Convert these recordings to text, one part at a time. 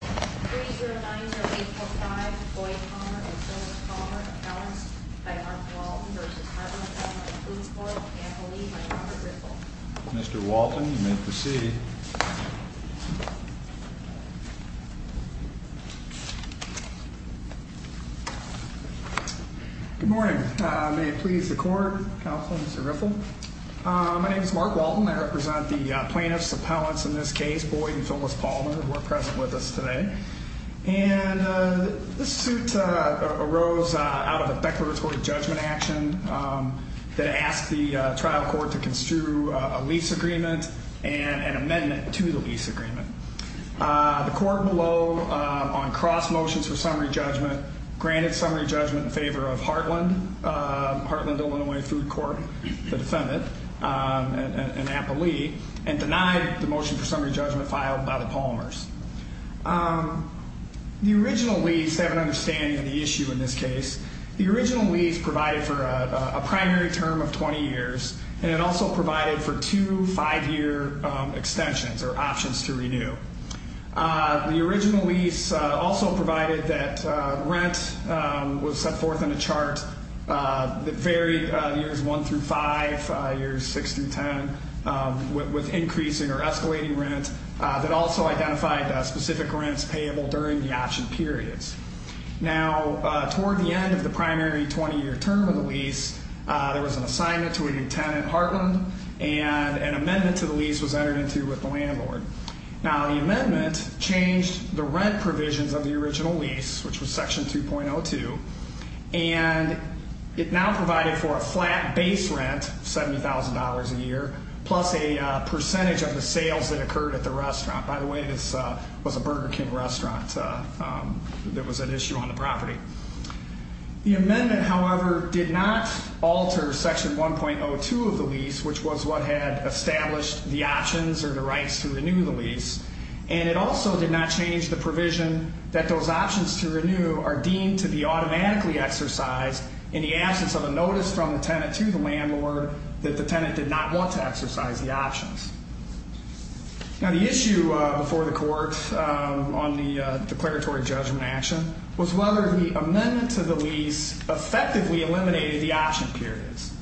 3 0 9 0 8 4 5 Boyd Palmer and Phyllis Palmer, appellants by Mark Walton v. Heartland Illinois Food Corporation, accompanied by Robert Riffle. Mr. Walton, you may proceed. Good morning. May it please the court, counsel, Mr. Riffle? My name is Mark Walton. I represent the plaintiffs, appellants in this case, Boyd and Phyllis Palmer, who are present with us today. And this suit arose out of a declaratory judgment action that asked the trial court to construe a lease agreement and an amendment to the lease agreement. The court below, on cross motions for summary judgment, granted summary judgment in favor of Heartland, Heartland Illinois Food Corp, the defendant, an appellee, and denied the motion for summary judgment filed by the Palmers. The original lease, to have an understanding of the issue in this case, the original lease provided for a primary term of 20 years. And it also provided for two five-year extensions or options to renew. The original lease also provided that rent was set forth in a chart that varied years 1 through 5, years 6 through 10, with increasing or escalating rent, that also identified specific rents payable during the option periods. Now, toward the end of the primary 20-year term of the lease, there was an assignment to a new tenant, Heartland, and an amendment to the lease was entered into with the landlord. Now, the amendment changed the rent provisions of the original lease, which was Section 2.02, and it now provided for a flat base rent, $70,000 a year, plus a percentage of the sales that occurred at the restaurant. By the way, this was a Burger King restaurant that was an issue on the property. The amendment, however, did not alter Section 1.02 of the lease, which was what had established the options or the rights to renew the lease. And it also did not change the provision that those options to renew are deemed to be automatically exercised in the absence of a notice from the tenant to the landlord that the tenant did not want to exercise the options. Now, the issue before the court on the declaratory judgment action was whether the amendment to the lease effectively eliminated the option periods.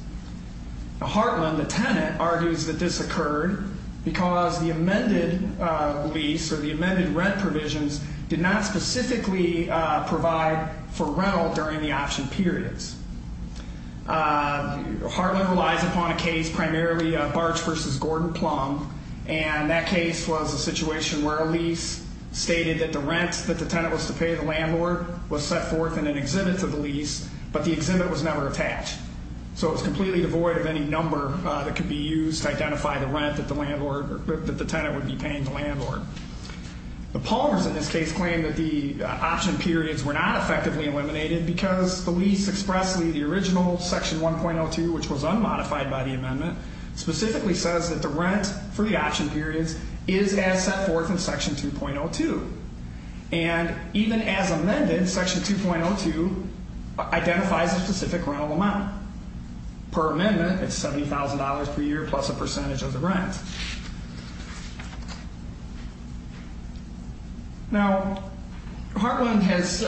Now, Heartland, the tenant, argues that this occurred because the amended lease or the amended rent provisions did not specifically provide for rental during the option periods. Heartland relies upon a case, primarily Barch v. Gordon Plumb, and that case was a situation where a lease stated that the rent that the tenant was to pay the landlord was set forth in an exhibit to the lease, but the exhibit was never attached. So it was completely devoid of any number that could be used to identify the rent that the tenant would be paying the landlord. The Plumbers, in this case, claim that the option periods were not effectively eliminated because the lease expressly, the original Section 1.02, which was unmodified by the amendment, specifically says that the rent for the option periods is as set forth in Section 2.02. And even as amended, Section 2.02 identifies a specific rental amount per amendment. It's $70,000 per year plus a percentage of the rent. Now, Heartland has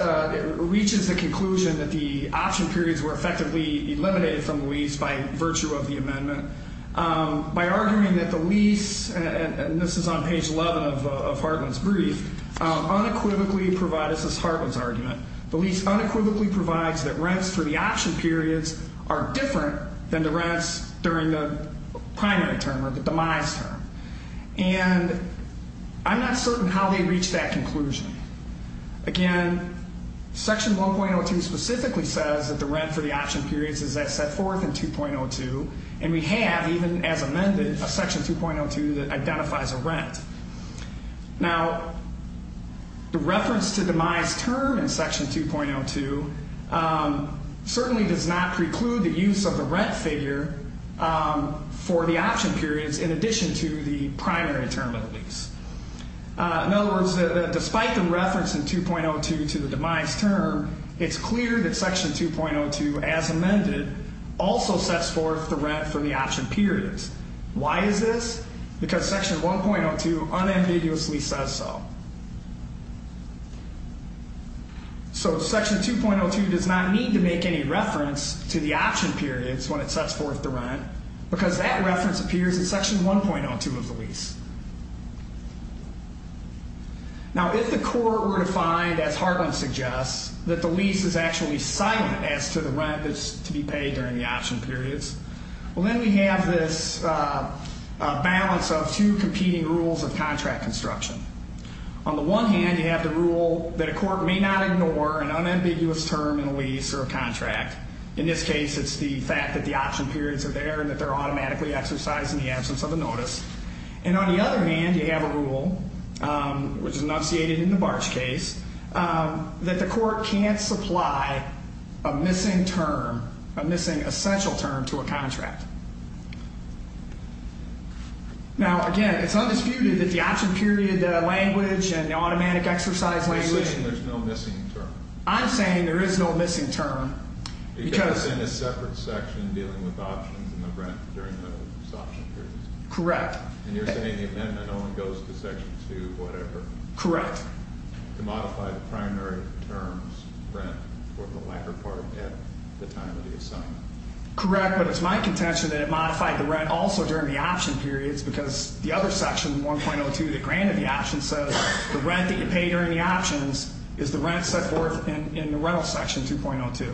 reached the conclusion that the option periods were effectively eliminated from the lease by virtue of the amendment. By arguing that the lease, and this is on page 11 of Heartland's brief, unequivocally provides, this is Heartland's argument, the lease unequivocally provides that rents for the option periods are different than the rents during the primary term or the demise term. And I'm not certain how they reached that conclusion. Again, Section 1.02 specifically says that the rent for the option periods is as set forth in 2.02, and we have, even as amended, a Section 2.02 that identifies a rent. Now, the reference to demise term in Section 2.02 certainly does not preclude the use of the rent figure for the option periods in addition to the primary term of the lease. In other words, despite the reference in 2.02 to the demise term, it's clear that Section 2.02, as amended, also sets forth the rent for the option periods. Why is this? Because Section 1.02 unambiguously says so. So Section 2.02 does not need to make any reference to the option periods when it sets forth the rent, because that reference appears in Section 1.02 of the lease. Now, if the court were to find, as Hartland suggests, that the lease is actually silent as to the rent that's to be paid during the option periods, well, then we have this balance of two competing rules of contract construction. On the one hand, you have the rule that a court may not ignore an unambiguous term in a lease or a contract. In this case, it's the fact that the option periods are there and that they're automatically exercised in the absence of a notice. And on the other hand, you have a rule, which is enunciated in the Barge case, that the court can't supply a missing term, a missing essential term, to a contract. Now, again, it's undisputed that the option period language and the automatic exercise language... You're saying there's no missing term. I'm saying there is no missing term, because... Because it's in a separate section dealing with options and the rent during those option periods. Correct. And you're saying the amendment only goes to Section 2, whatever? Correct. To modify the primary terms, rent, or the lacquer part at the time of the assignment. Correct, but it's my contention that it modified the rent also during the option periods, because the other section, 1.02, that granted the option, says the rent that you pay during the options is the rent set forth in the rental section, 2.02.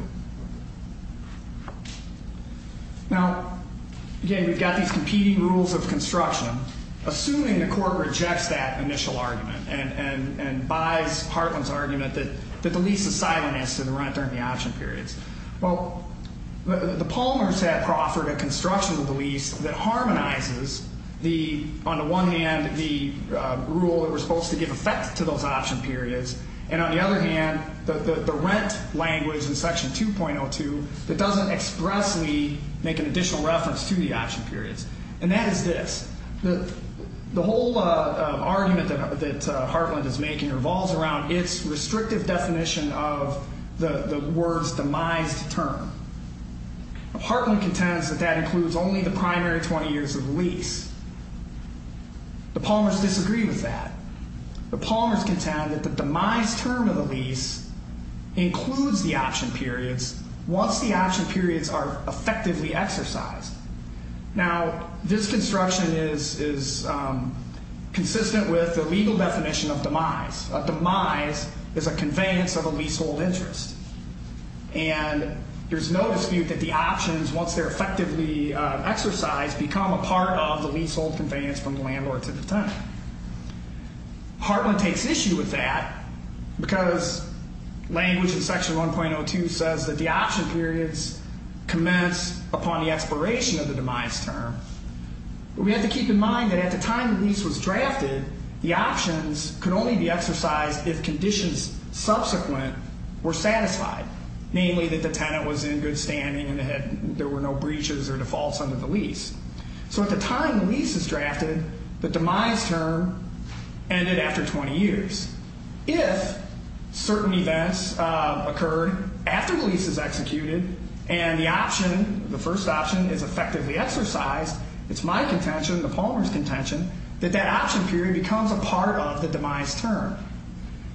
Now, again, we've got these competing rules of construction. Assuming the court rejects that initial argument and buys Hartland's argument that the lease is silent as to the rent during the option periods. Well, the Palmer's had proffered a construction of the lease that harmonizes the... On the one hand, the rule that we're supposed to give effect to those option periods. And on the other hand, the rent language in Section 2.02 that doesn't expressly make an additional reference to the option periods. And that is this. The whole argument that Hartland is making revolves around its restrictive definition of the word's demised term. Hartland contends that that includes only the primary 20 years of the lease. The Palmer's disagree with that. The Palmer's contend that the demise term of the lease includes the option periods once the option periods are effectively exercised. Now, this construction is consistent with the legal definition of demise. A demise is a conveyance of a leasehold interest. And there's no dispute that the options, once they're effectively exercised, become a part of the leasehold conveyance from the landlord to the tenant. Hartland takes issue with that because language in Section 1.02 says that the option periods commence upon the expiration of the demise term. We have to keep in mind that at the time the lease was drafted, the options could only be exercised if conditions subsequent were satisfied. Namely, that the tenant was in good standing and there were no breaches or defaults under the lease. So at the time the lease is drafted, the demise term ended after 20 years. If certain events occurred after the lease is executed and the option, the first option, is effectively exercised, it's my contention, the Palmer's contention, that that option period becomes a part of the demise term.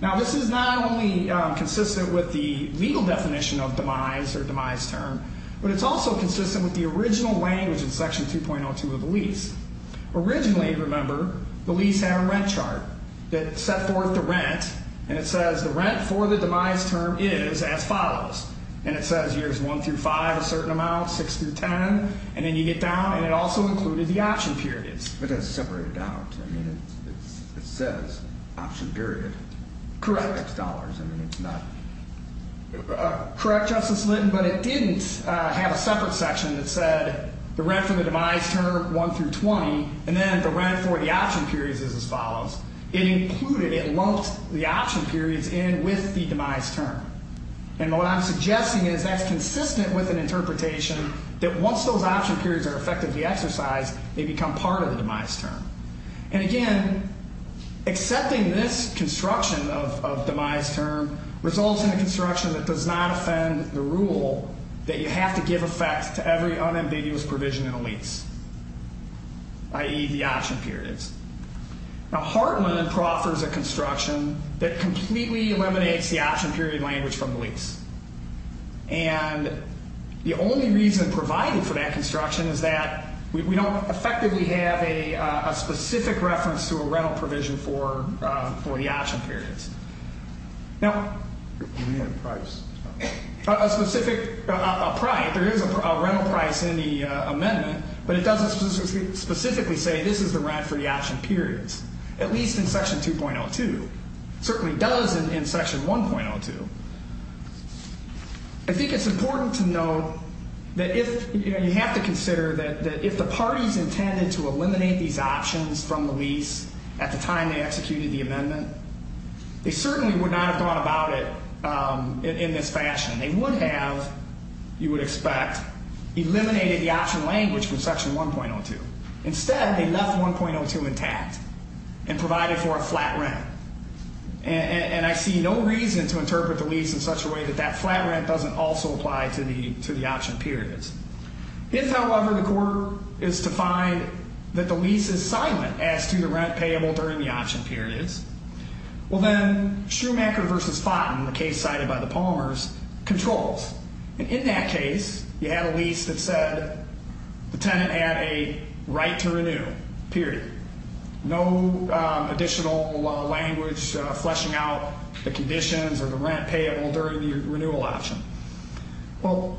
Now, this is not only consistent with the legal definition of demise or demise term, but it's also consistent with the original language in Section 2.02 of the lease. Originally, remember, the lease had a rent chart that set forth the rent, and it says the rent for the demise term is as follows. And it says years 1 through 5 a certain amount, 6 through 10, and then you get down, and it also included the option periods. But that's separated out. I mean, it says option period. Correct. $6. I mean, it's not... Correct, Justice Lytton, but it didn't have a separate section that said the rent for the demise term, 1 through 20, and then the rent for the option periods is as follows. It included, it lumped the option periods in with the demise term. And what I'm suggesting is that's consistent with an interpretation that once those option periods are effectively exercised, they become part of the demise term. And again, accepting this construction of demise term results in a construction that does not offend the rule that you have to give effects to every unambiguous provision in a lease, i.e., the option periods. Now, Hartland proffers a construction that completely eliminates the option period language from the lease. And the only reason provided for that construction is that we don't effectively have a specific reference to a rental provision for the option periods. Now, a specific price, there is a rental price in the amendment, but it doesn't specifically say this is the rent for the option periods, at least in Section 2.02. It certainly does in Section 1.02. I think it's important to note that if, you know, you have to consider that if the parties intended to eliminate these options from the lease at the time they executed the amendment, they certainly would not have gone about it in this fashion. They would have, you would expect, eliminated the option language from Section 1.02. Instead, they left 1.02 intact and provided for a flat rent. And I see no reason to interpret the lease in such a way that that flat rent doesn't also apply to the option periods. If, however, the court is to find that the lease is silent as to the rent payable during the option periods, well, then Schumacher v. Fountain, the case cited by the Palmers, controls. And in that case, you had a lease that said the tenant had a right to renew, period. No additional language fleshing out the conditions or the rent payable during the renewal option. Well,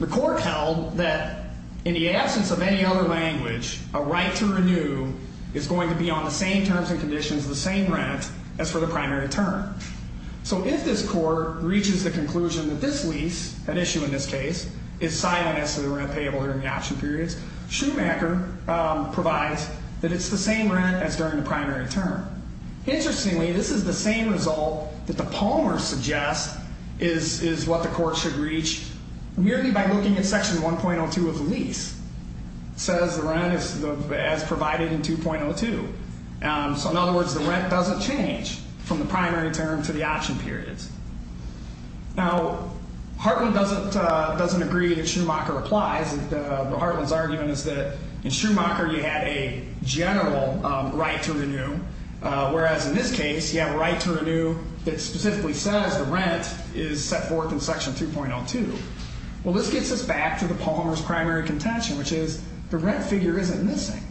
the court held that in the absence of any other language, a right to renew is going to be on the same terms and conditions, the same rent, as for the primary term. So if this court reaches the conclusion that this lease, an issue in this case, is silent as to the rent payable during the option periods, Schumacher provides that it's the same rent as during the primary term. Interestingly, this is the same result that the Palmers suggest is what the court should reach merely by looking at Section 1.02 of the lease. It says the rent is as provided in 2.02. So in other words, the rent doesn't change from the primary term to the option periods. Now, Hartman doesn't agree that Schumacher applies. Hartman's argument is that in Schumacher, you had a general right to renew, whereas in this case, you have a right to renew that specifically says the rent is set forth in Section 2.02. Well, this gets us back to the Palmers' primary contention, which is the rent figure isn't missing.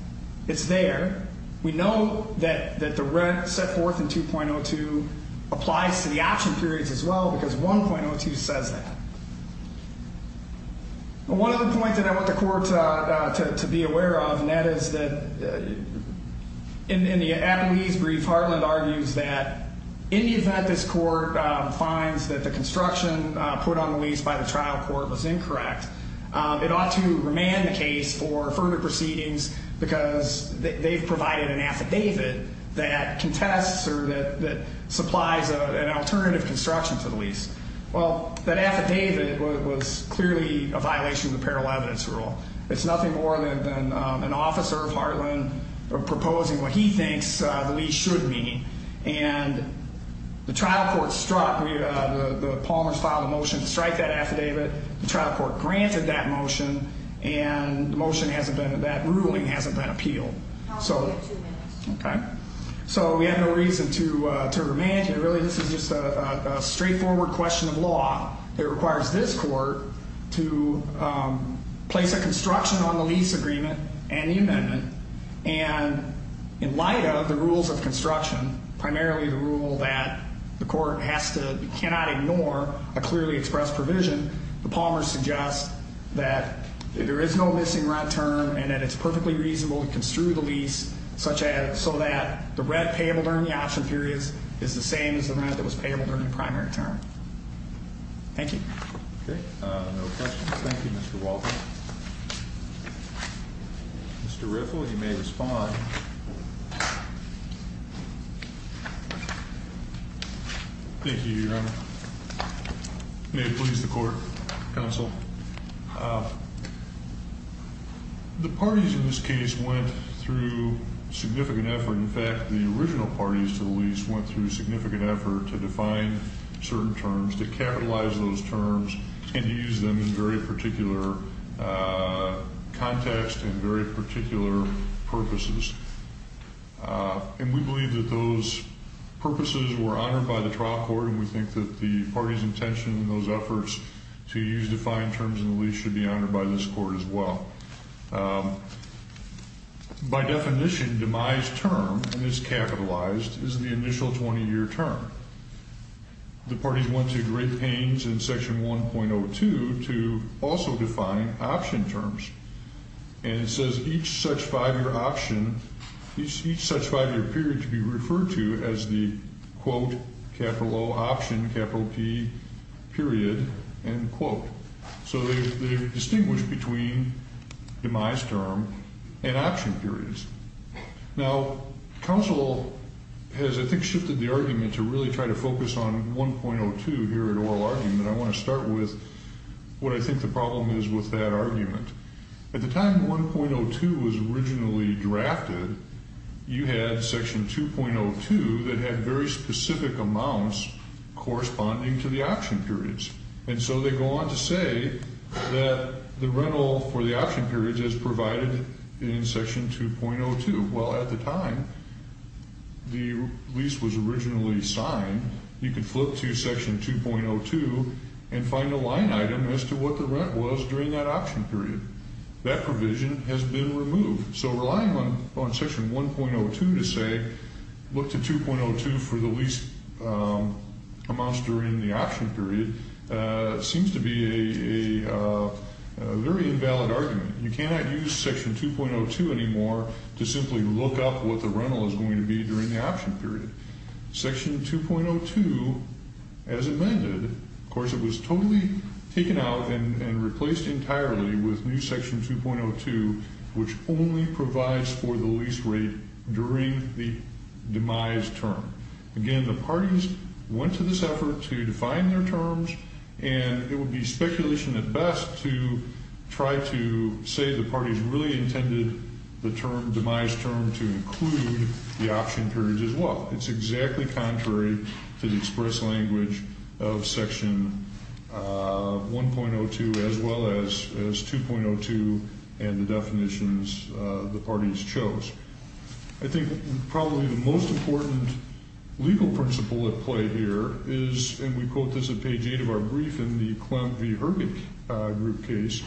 It's there. We know that the rent set forth in 2.02 applies to the option periods as well, because 1.02 says that. One other point that I want the court to be aware of, and that is that in the appellee's brief, Hartman argues that in the event this court finds that the construction put on the lease by the trial court was incorrect, it ought to remand the case for further proceedings because they've provided an affidavit that contests or that supplies an alternative construction to the lease. Well, that affidavit was clearly a violation of the parallel evidence rule. It's nothing more than an officer of Hartman proposing what he thinks the lease should be. And the trial court struck. The Palmers filed a motion to strike that affidavit. The trial court granted that motion, and the motion hasn't been, that ruling hasn't been appealed. Okay. So we have no reason to remand it. Really, this is just a straightforward question of law that requires this court to place a construction on the lease agreement and the amendment. And in light of the rules of construction, primarily the rule that the court has to, cannot ignore a clearly expressed provision, the Palmers suggest that there is no missing rent term and that it's perfectly reasonable to construe the lease such as so that the rent payable during the option period is the same as the rent that was payable during the primary term. Thank you. Okay. No questions. Thank you, Mr. Walton. Mr. Riffle, you may respond. Thank you, Your Honor. May it please the court. Counsel. The parties in this case went through significant effort. In fact, the original parties to the lease went through significant effort to define certain terms, to capitalize those terms, and to use them in very particular context and very particular purposes. And we believe that those purposes were honored by the trial court, and we think that the parties' intention in those efforts to use defined terms in the lease should be honored by this court as well. By definition, demise term, and it's capitalized, is the initial 20-year term. The parties went to great pains in Section 1.02 to also define option terms. And it says each such 5-year option, each such 5-year period to be referred to as the, quote, capital O option, capital P period, end quote. So they distinguished between demise term and option periods. Now, counsel has, I think, shifted the argument to really try to focus on 1.02 here at oral argument. And I want to start with what I think the problem is with that argument. At the time 1.02 was originally drafted, you had Section 2.02 that had very specific amounts corresponding to the option periods. And so they go on to say that the rental for the option period is provided in Section 2.02. Well, at the time the lease was originally signed, you could flip to Section 2.02 and find a line item as to what the rent was during that option period. That provision has been removed. So relying on Section 1.02 to say look to 2.02 for the lease amounts during the option period seems to be a very invalid argument. You cannot use Section 2.02 anymore to simply look up what the rental is going to be during the option period. Section 2.02, as amended, of course, it was totally taken out and replaced entirely with new Section 2.02, which only provides for the lease rate during the demise term. Again, the parties went to this effort to define their terms, and it would be speculation at best to try to say the parties really intended the term, demise term, to include the option periods as well. It's exactly contrary to the express language of Section 1.02 as well as 2.02 and the definitions the parties chose. I think probably the most important legal principle at play here is, and we quote this at page 8 of our brief in the Clem v. Herbig group case,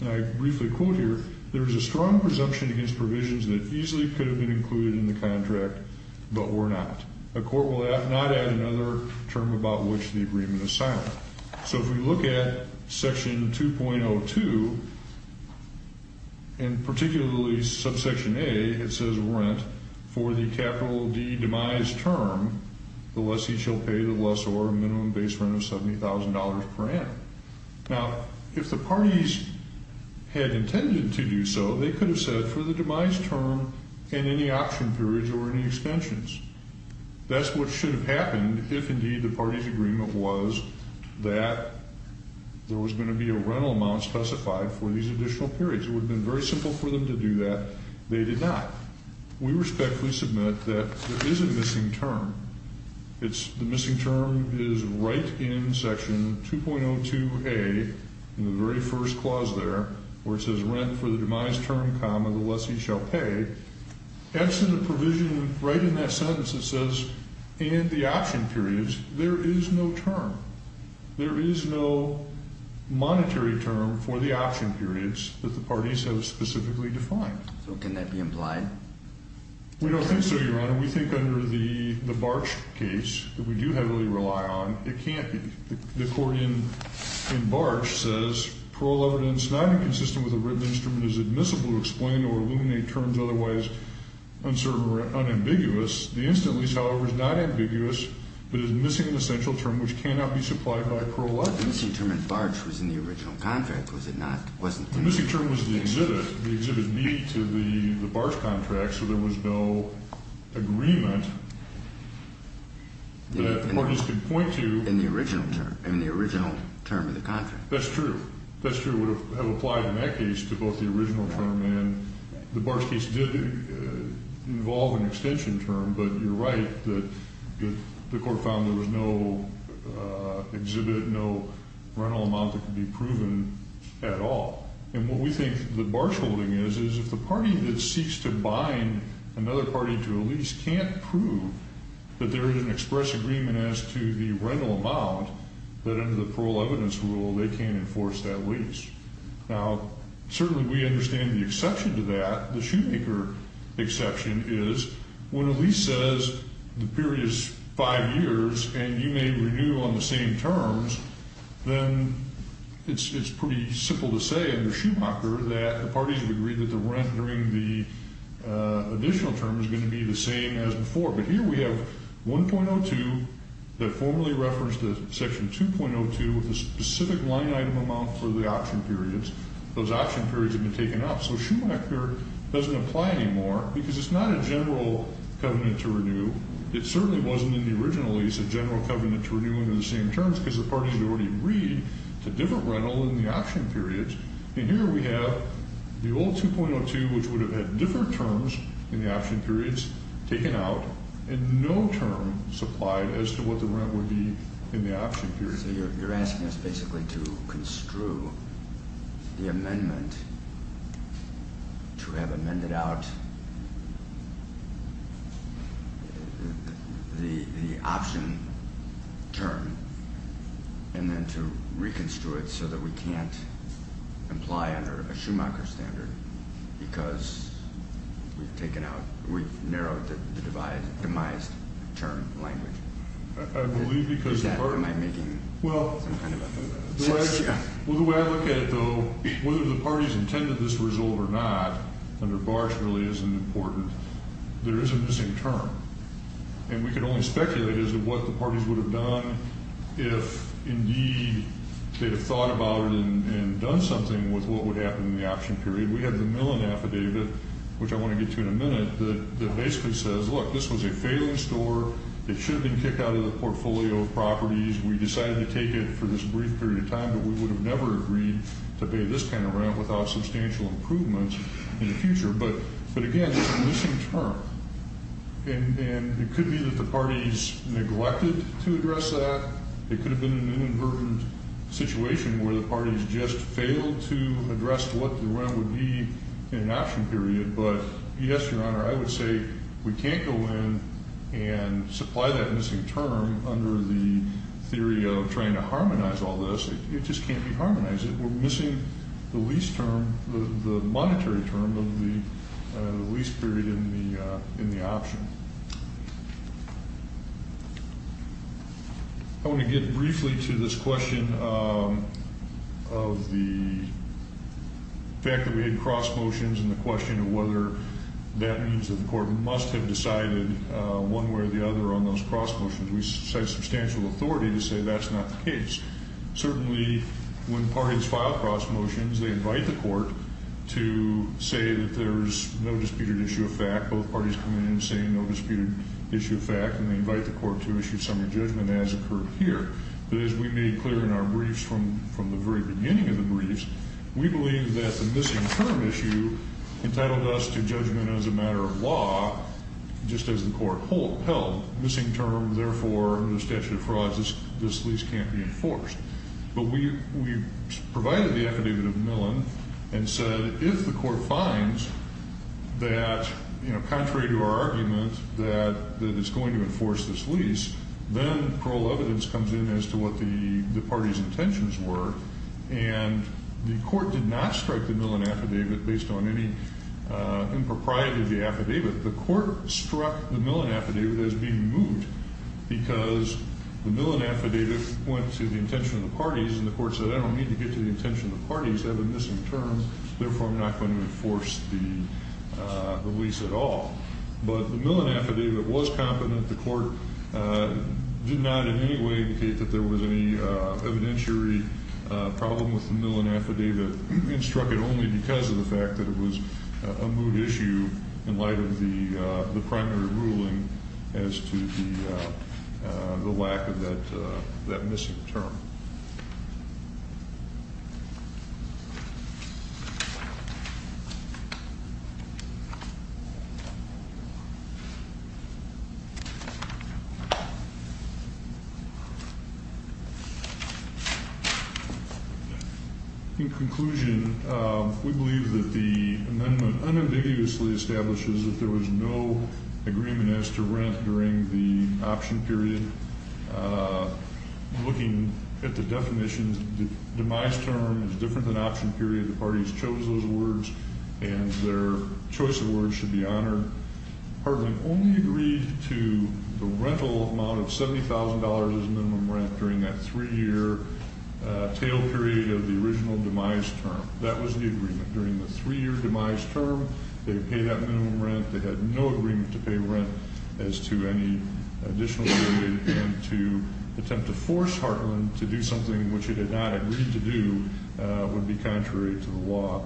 and I briefly quote here, there is a strong presumption against provisions that easily could have been included in the contract but were not. A court will not add another term about which the agreement is silent. So if we look at Section 2.02, and particularly subsection A, it says rent for the capital D demise term, the lessee shall pay the lessor a minimum base rent of $70,000 per annum. Now, if the parties had intended to do so, they could have said for the demise term and any option periods or any extensions. That's what should have happened if indeed the parties' agreement was that there was going to be a rental amount specified for these additional periods. It would have been very simple for them to do that. They did not. We respectfully submit that there is a missing term. The missing term is right in Section 2.02A in the very first clause there where it says rent for the demise term, comma, the lessee shall pay. That's in the provision right in that sentence that says, and the option periods, there is no term. There is no monetary term for the option periods that the parties have specifically defined. So can that be implied? We don't think so, Your Honor. We think under the Barch case that we do heavily rely on, it can't be. The court in Barch says parole evidence not inconsistent with a written instrument is admissible to explain or illuminate terms otherwise uncertain or unambiguous. The incident lease, however, is not ambiguous but is missing an essential term which cannot be supplied by parole evidence. The missing term in Barch was in the original contract, was it not? The missing term was the exhibit, the exhibit B to the Barch contract, so there was no agreement that the parties could point to. In the original term, in the original term of the contract. That's true. That's true. It would have applied in that case to both the original term and the Barch case did involve an extension term. But you're right that the court found there was no exhibit, no rental amount that could be proven at all. And what we think the Barch holding is, is if the party that seeks to bind another party to a lease can't prove that there is an express agreement as to the rental amount, that under the parole evidence rule they can't enforce that lease. Now, certainly we understand the exception to that. The Shoemaker exception is when a lease says the period is five years and you may renew on the same terms, then it's pretty simple to say under Shoemaker that the parties would agree that the rent during the additional term is going to be the same as before. But here we have 1.02 that formally referenced section 2.02 with a specific line item amount for the option periods. Those option periods have been taken out. So Shoemaker doesn't apply anymore because it's not a general covenant to renew. It certainly wasn't in the original lease a general covenant to renew under the same terms because the parties had already agreed to different rental in the option periods. And here we have the old 2.02, which would have had different terms in the option periods taken out and no term supplied as to what the rent would be in the option period. So you're asking us basically to construe the amendment to have amended out the option term and then to reconstrue it so that we can't apply under a Shoemaker standard because we've taken out, we've narrowed the devised term language. I believe because the party... Am I making some kind of a... Well, the way I look at it, though, whether the parties intended this to resolve or not under Barsch really isn't important. There is a missing term. And we can only speculate as to what the parties would have done if indeed they'd have thought about it and done something with what would happen in the option period. We have the Millon Affidavit, which I want to get to in a minute, that basically says, look, this was a failing store. It should have been kicked out of the portfolio of properties. We decided to take it for this brief period of time, but we would have never agreed to pay this kind of rent without substantial improvements in the future. But again, it's a missing term. And it could be that the parties neglected to address that. It could have been an inadvertent situation where the parties just failed to address what the rent would be in an option period. But, yes, Your Honor, I would say we can't go in and supply that missing term under the theory of trying to harmonize all this. It just can't be harmonized. We're missing the lease term, the monetary term of the lease period in the option. I want to get briefly to this question of the fact that we had cross motions and the question of whether that means that the court must have decided one way or the other on those cross motions. We cite substantial authority to say that's not the case. Certainly, when parties file cross motions, they invite the court to say that there's no disputed issue of fact. Both parties come in and say no disputed issue of fact, and they invite the court to issue summary judgment as occurred here. But as we made clear in our briefs from the very beginning of the briefs, we believe that the missing term issue entitled us to judgment as a matter of law, just as the court held. Missing term, therefore, under statute of frauds, this lease can't be enforced. But we provided the affidavit of Millon and said if the court finds that contrary to our argument that it's going to enforce this lease, then parole evidence comes in as to what the party's intentions were. And the court did not strike the Millon affidavit based on any impropriety of the affidavit. The court struck the Millon affidavit as being moot because the Millon affidavit went to the intention of the parties, and the court said I don't need to get to the intention of the parties. They have a missing term. Therefore, I'm not going to enforce the lease at all. But the Millon affidavit was competent. The court did not in any way indicate that there was any evidentiary problem with the Millon affidavit. We struck it only because of the fact that it was a moot issue in light of the primary ruling as to the lack of that missing term. In conclusion, we believe that the amendment unambiguously establishes that there was no agreement as to rent during the option period. Looking at the definitions, the demise term is different than option period. The parties chose those words, and their choice of words should be honored. Part of them only agreed to the rental amount of $70,000 as minimum rent during that three-year tail period of the original demise term. That was the agreement. During the three-year demise term, they paid that minimum rent. They had no agreement to pay rent as to any additional period. And to attempt to force Heartland to do something which it had not agreed to do would be contrary to the law.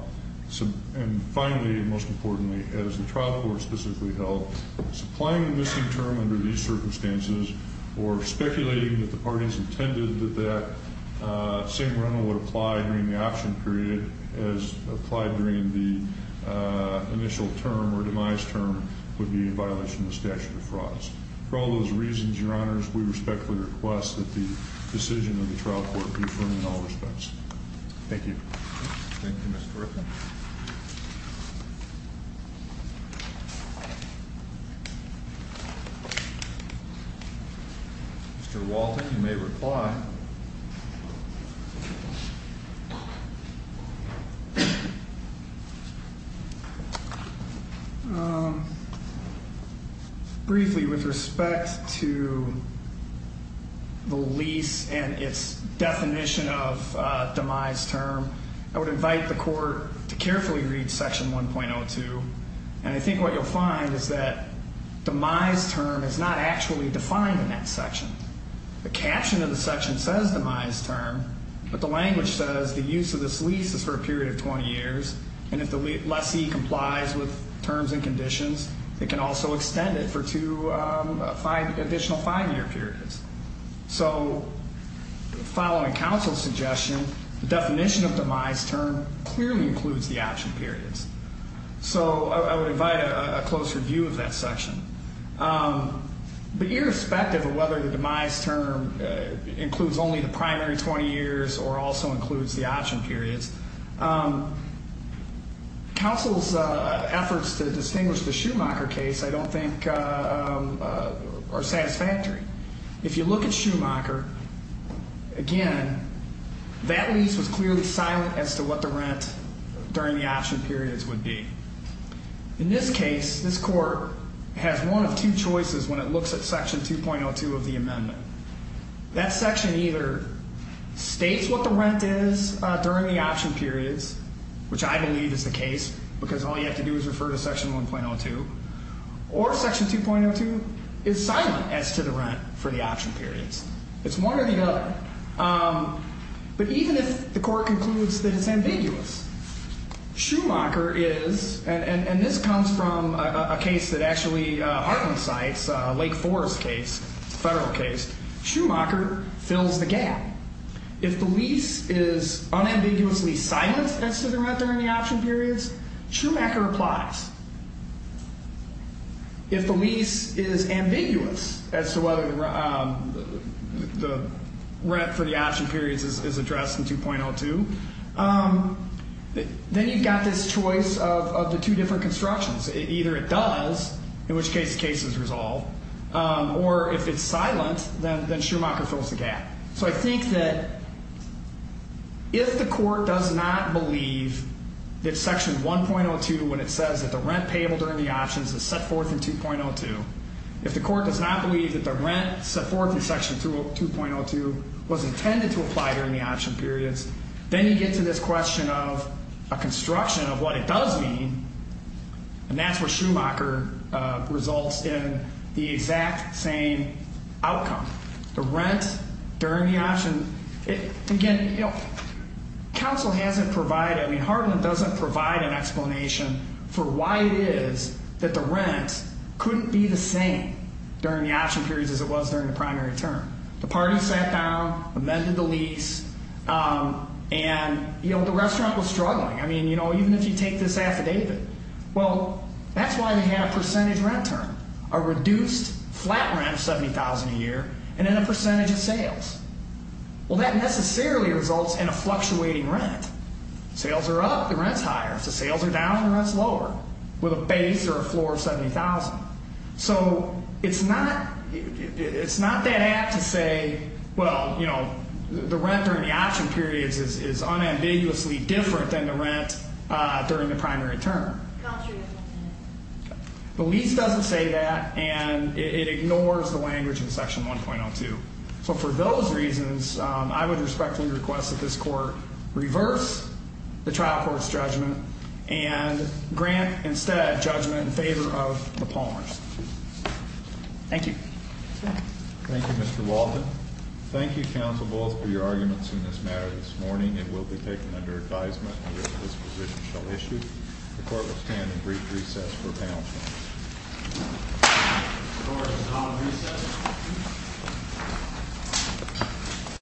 And finally, and most importantly, as the trial court specifically held, supplying the missing term under these circumstances, or speculating that the parties intended that that same rental would apply during the option period as applied during the initial term or demise term would be a violation of the statute of frauds. For all those reasons, your honors, we respectfully request that the decision of the trial court be affirmed in all respects. Thank you. Thank you, Mr. Griffin. Mr. Walton, you may reply. Briefly, with respect to the lease and its definition of demise term, I would invite the court to carefully read section 1.02. And I think what you'll find is that demise term is not actually defined in that section. The caption of the section says demise term, but the language says the use of this lease is for a period of 20 years. And if the lessee complies with terms and conditions, they can also extend it for two additional five-year periods. So following counsel's suggestion, the definition of demise term clearly includes the option periods. So I would invite a closer view of that section. But irrespective of whether the demise term includes only the primary 20 years or also includes the option periods, counsel's efforts to distinguish the Schumacher case I don't think are satisfactory. If you look at Schumacher, again, that lease was clearly silent as to what the rent during the option periods would be. In this case, this court has one of two choices when it looks at section 2.02 of the amendment. That section either states what the rent is during the option periods, which I believe is the case, because all you have to do is refer to section 1.02, or section 2.02 is silent as to the rent for the option periods. It's one or the other. But even if the court concludes that it's ambiguous, Schumacher is, and this comes from a case that actually heartens sites, Lake Forest case, federal case. Schumacher fills the gap. If the lease is unambiguously silent as to the rent during the option periods, Schumacher applies. If the lease is ambiguous as to whether the rent for the option periods is addressed in 2.02, then you've got this choice of the two different constructions. Either it does, in which case the case is resolved, or if it's silent, then Schumacher fills the gap. So I think that if the court does not believe that section 1.02, when it says that the rent payable during the options is set forth in 2.02, if the court does not believe that the rent set forth in section 2.02 was intended to apply during the option periods, then you get to this question of a construction of what it does mean, and that's where Schumacher results in the exact same outcome. The rent during the option, again, you know, counsel hasn't provided, I mean, Hardin doesn't provide an explanation for why it is that the rent couldn't be the same during the option periods as it was during the primary term. The party sat down, amended the lease, and, you know, the restaurant was struggling. I mean, you know, even if you take this affidavit, well, that's why they had a percentage rent term, a reduced flat rent of $70,000 a year, and then a percentage of sales. Well, that necessarily results in a fluctuating rent. Sales are up, the rent's higher. If the sales are down, the rent's lower with a base or a floor of $70,000. So it's not that apt to say, well, you know, the rent during the option periods is unambiguously different than the rent during the primary term. The lease doesn't say that, and it ignores the language in Section 1.02. So for those reasons, I would respectfully request that this court reverse the trial court's judgment and grant instead judgment in favor of the Palmers. Thank you. Thank you, Mr. Walton. Thank you, counsel, both, for your arguments in this matter this morning. It will be taken under advisement that this position shall issue. The court will stand in brief recess for panel discussion. The court is now in recess.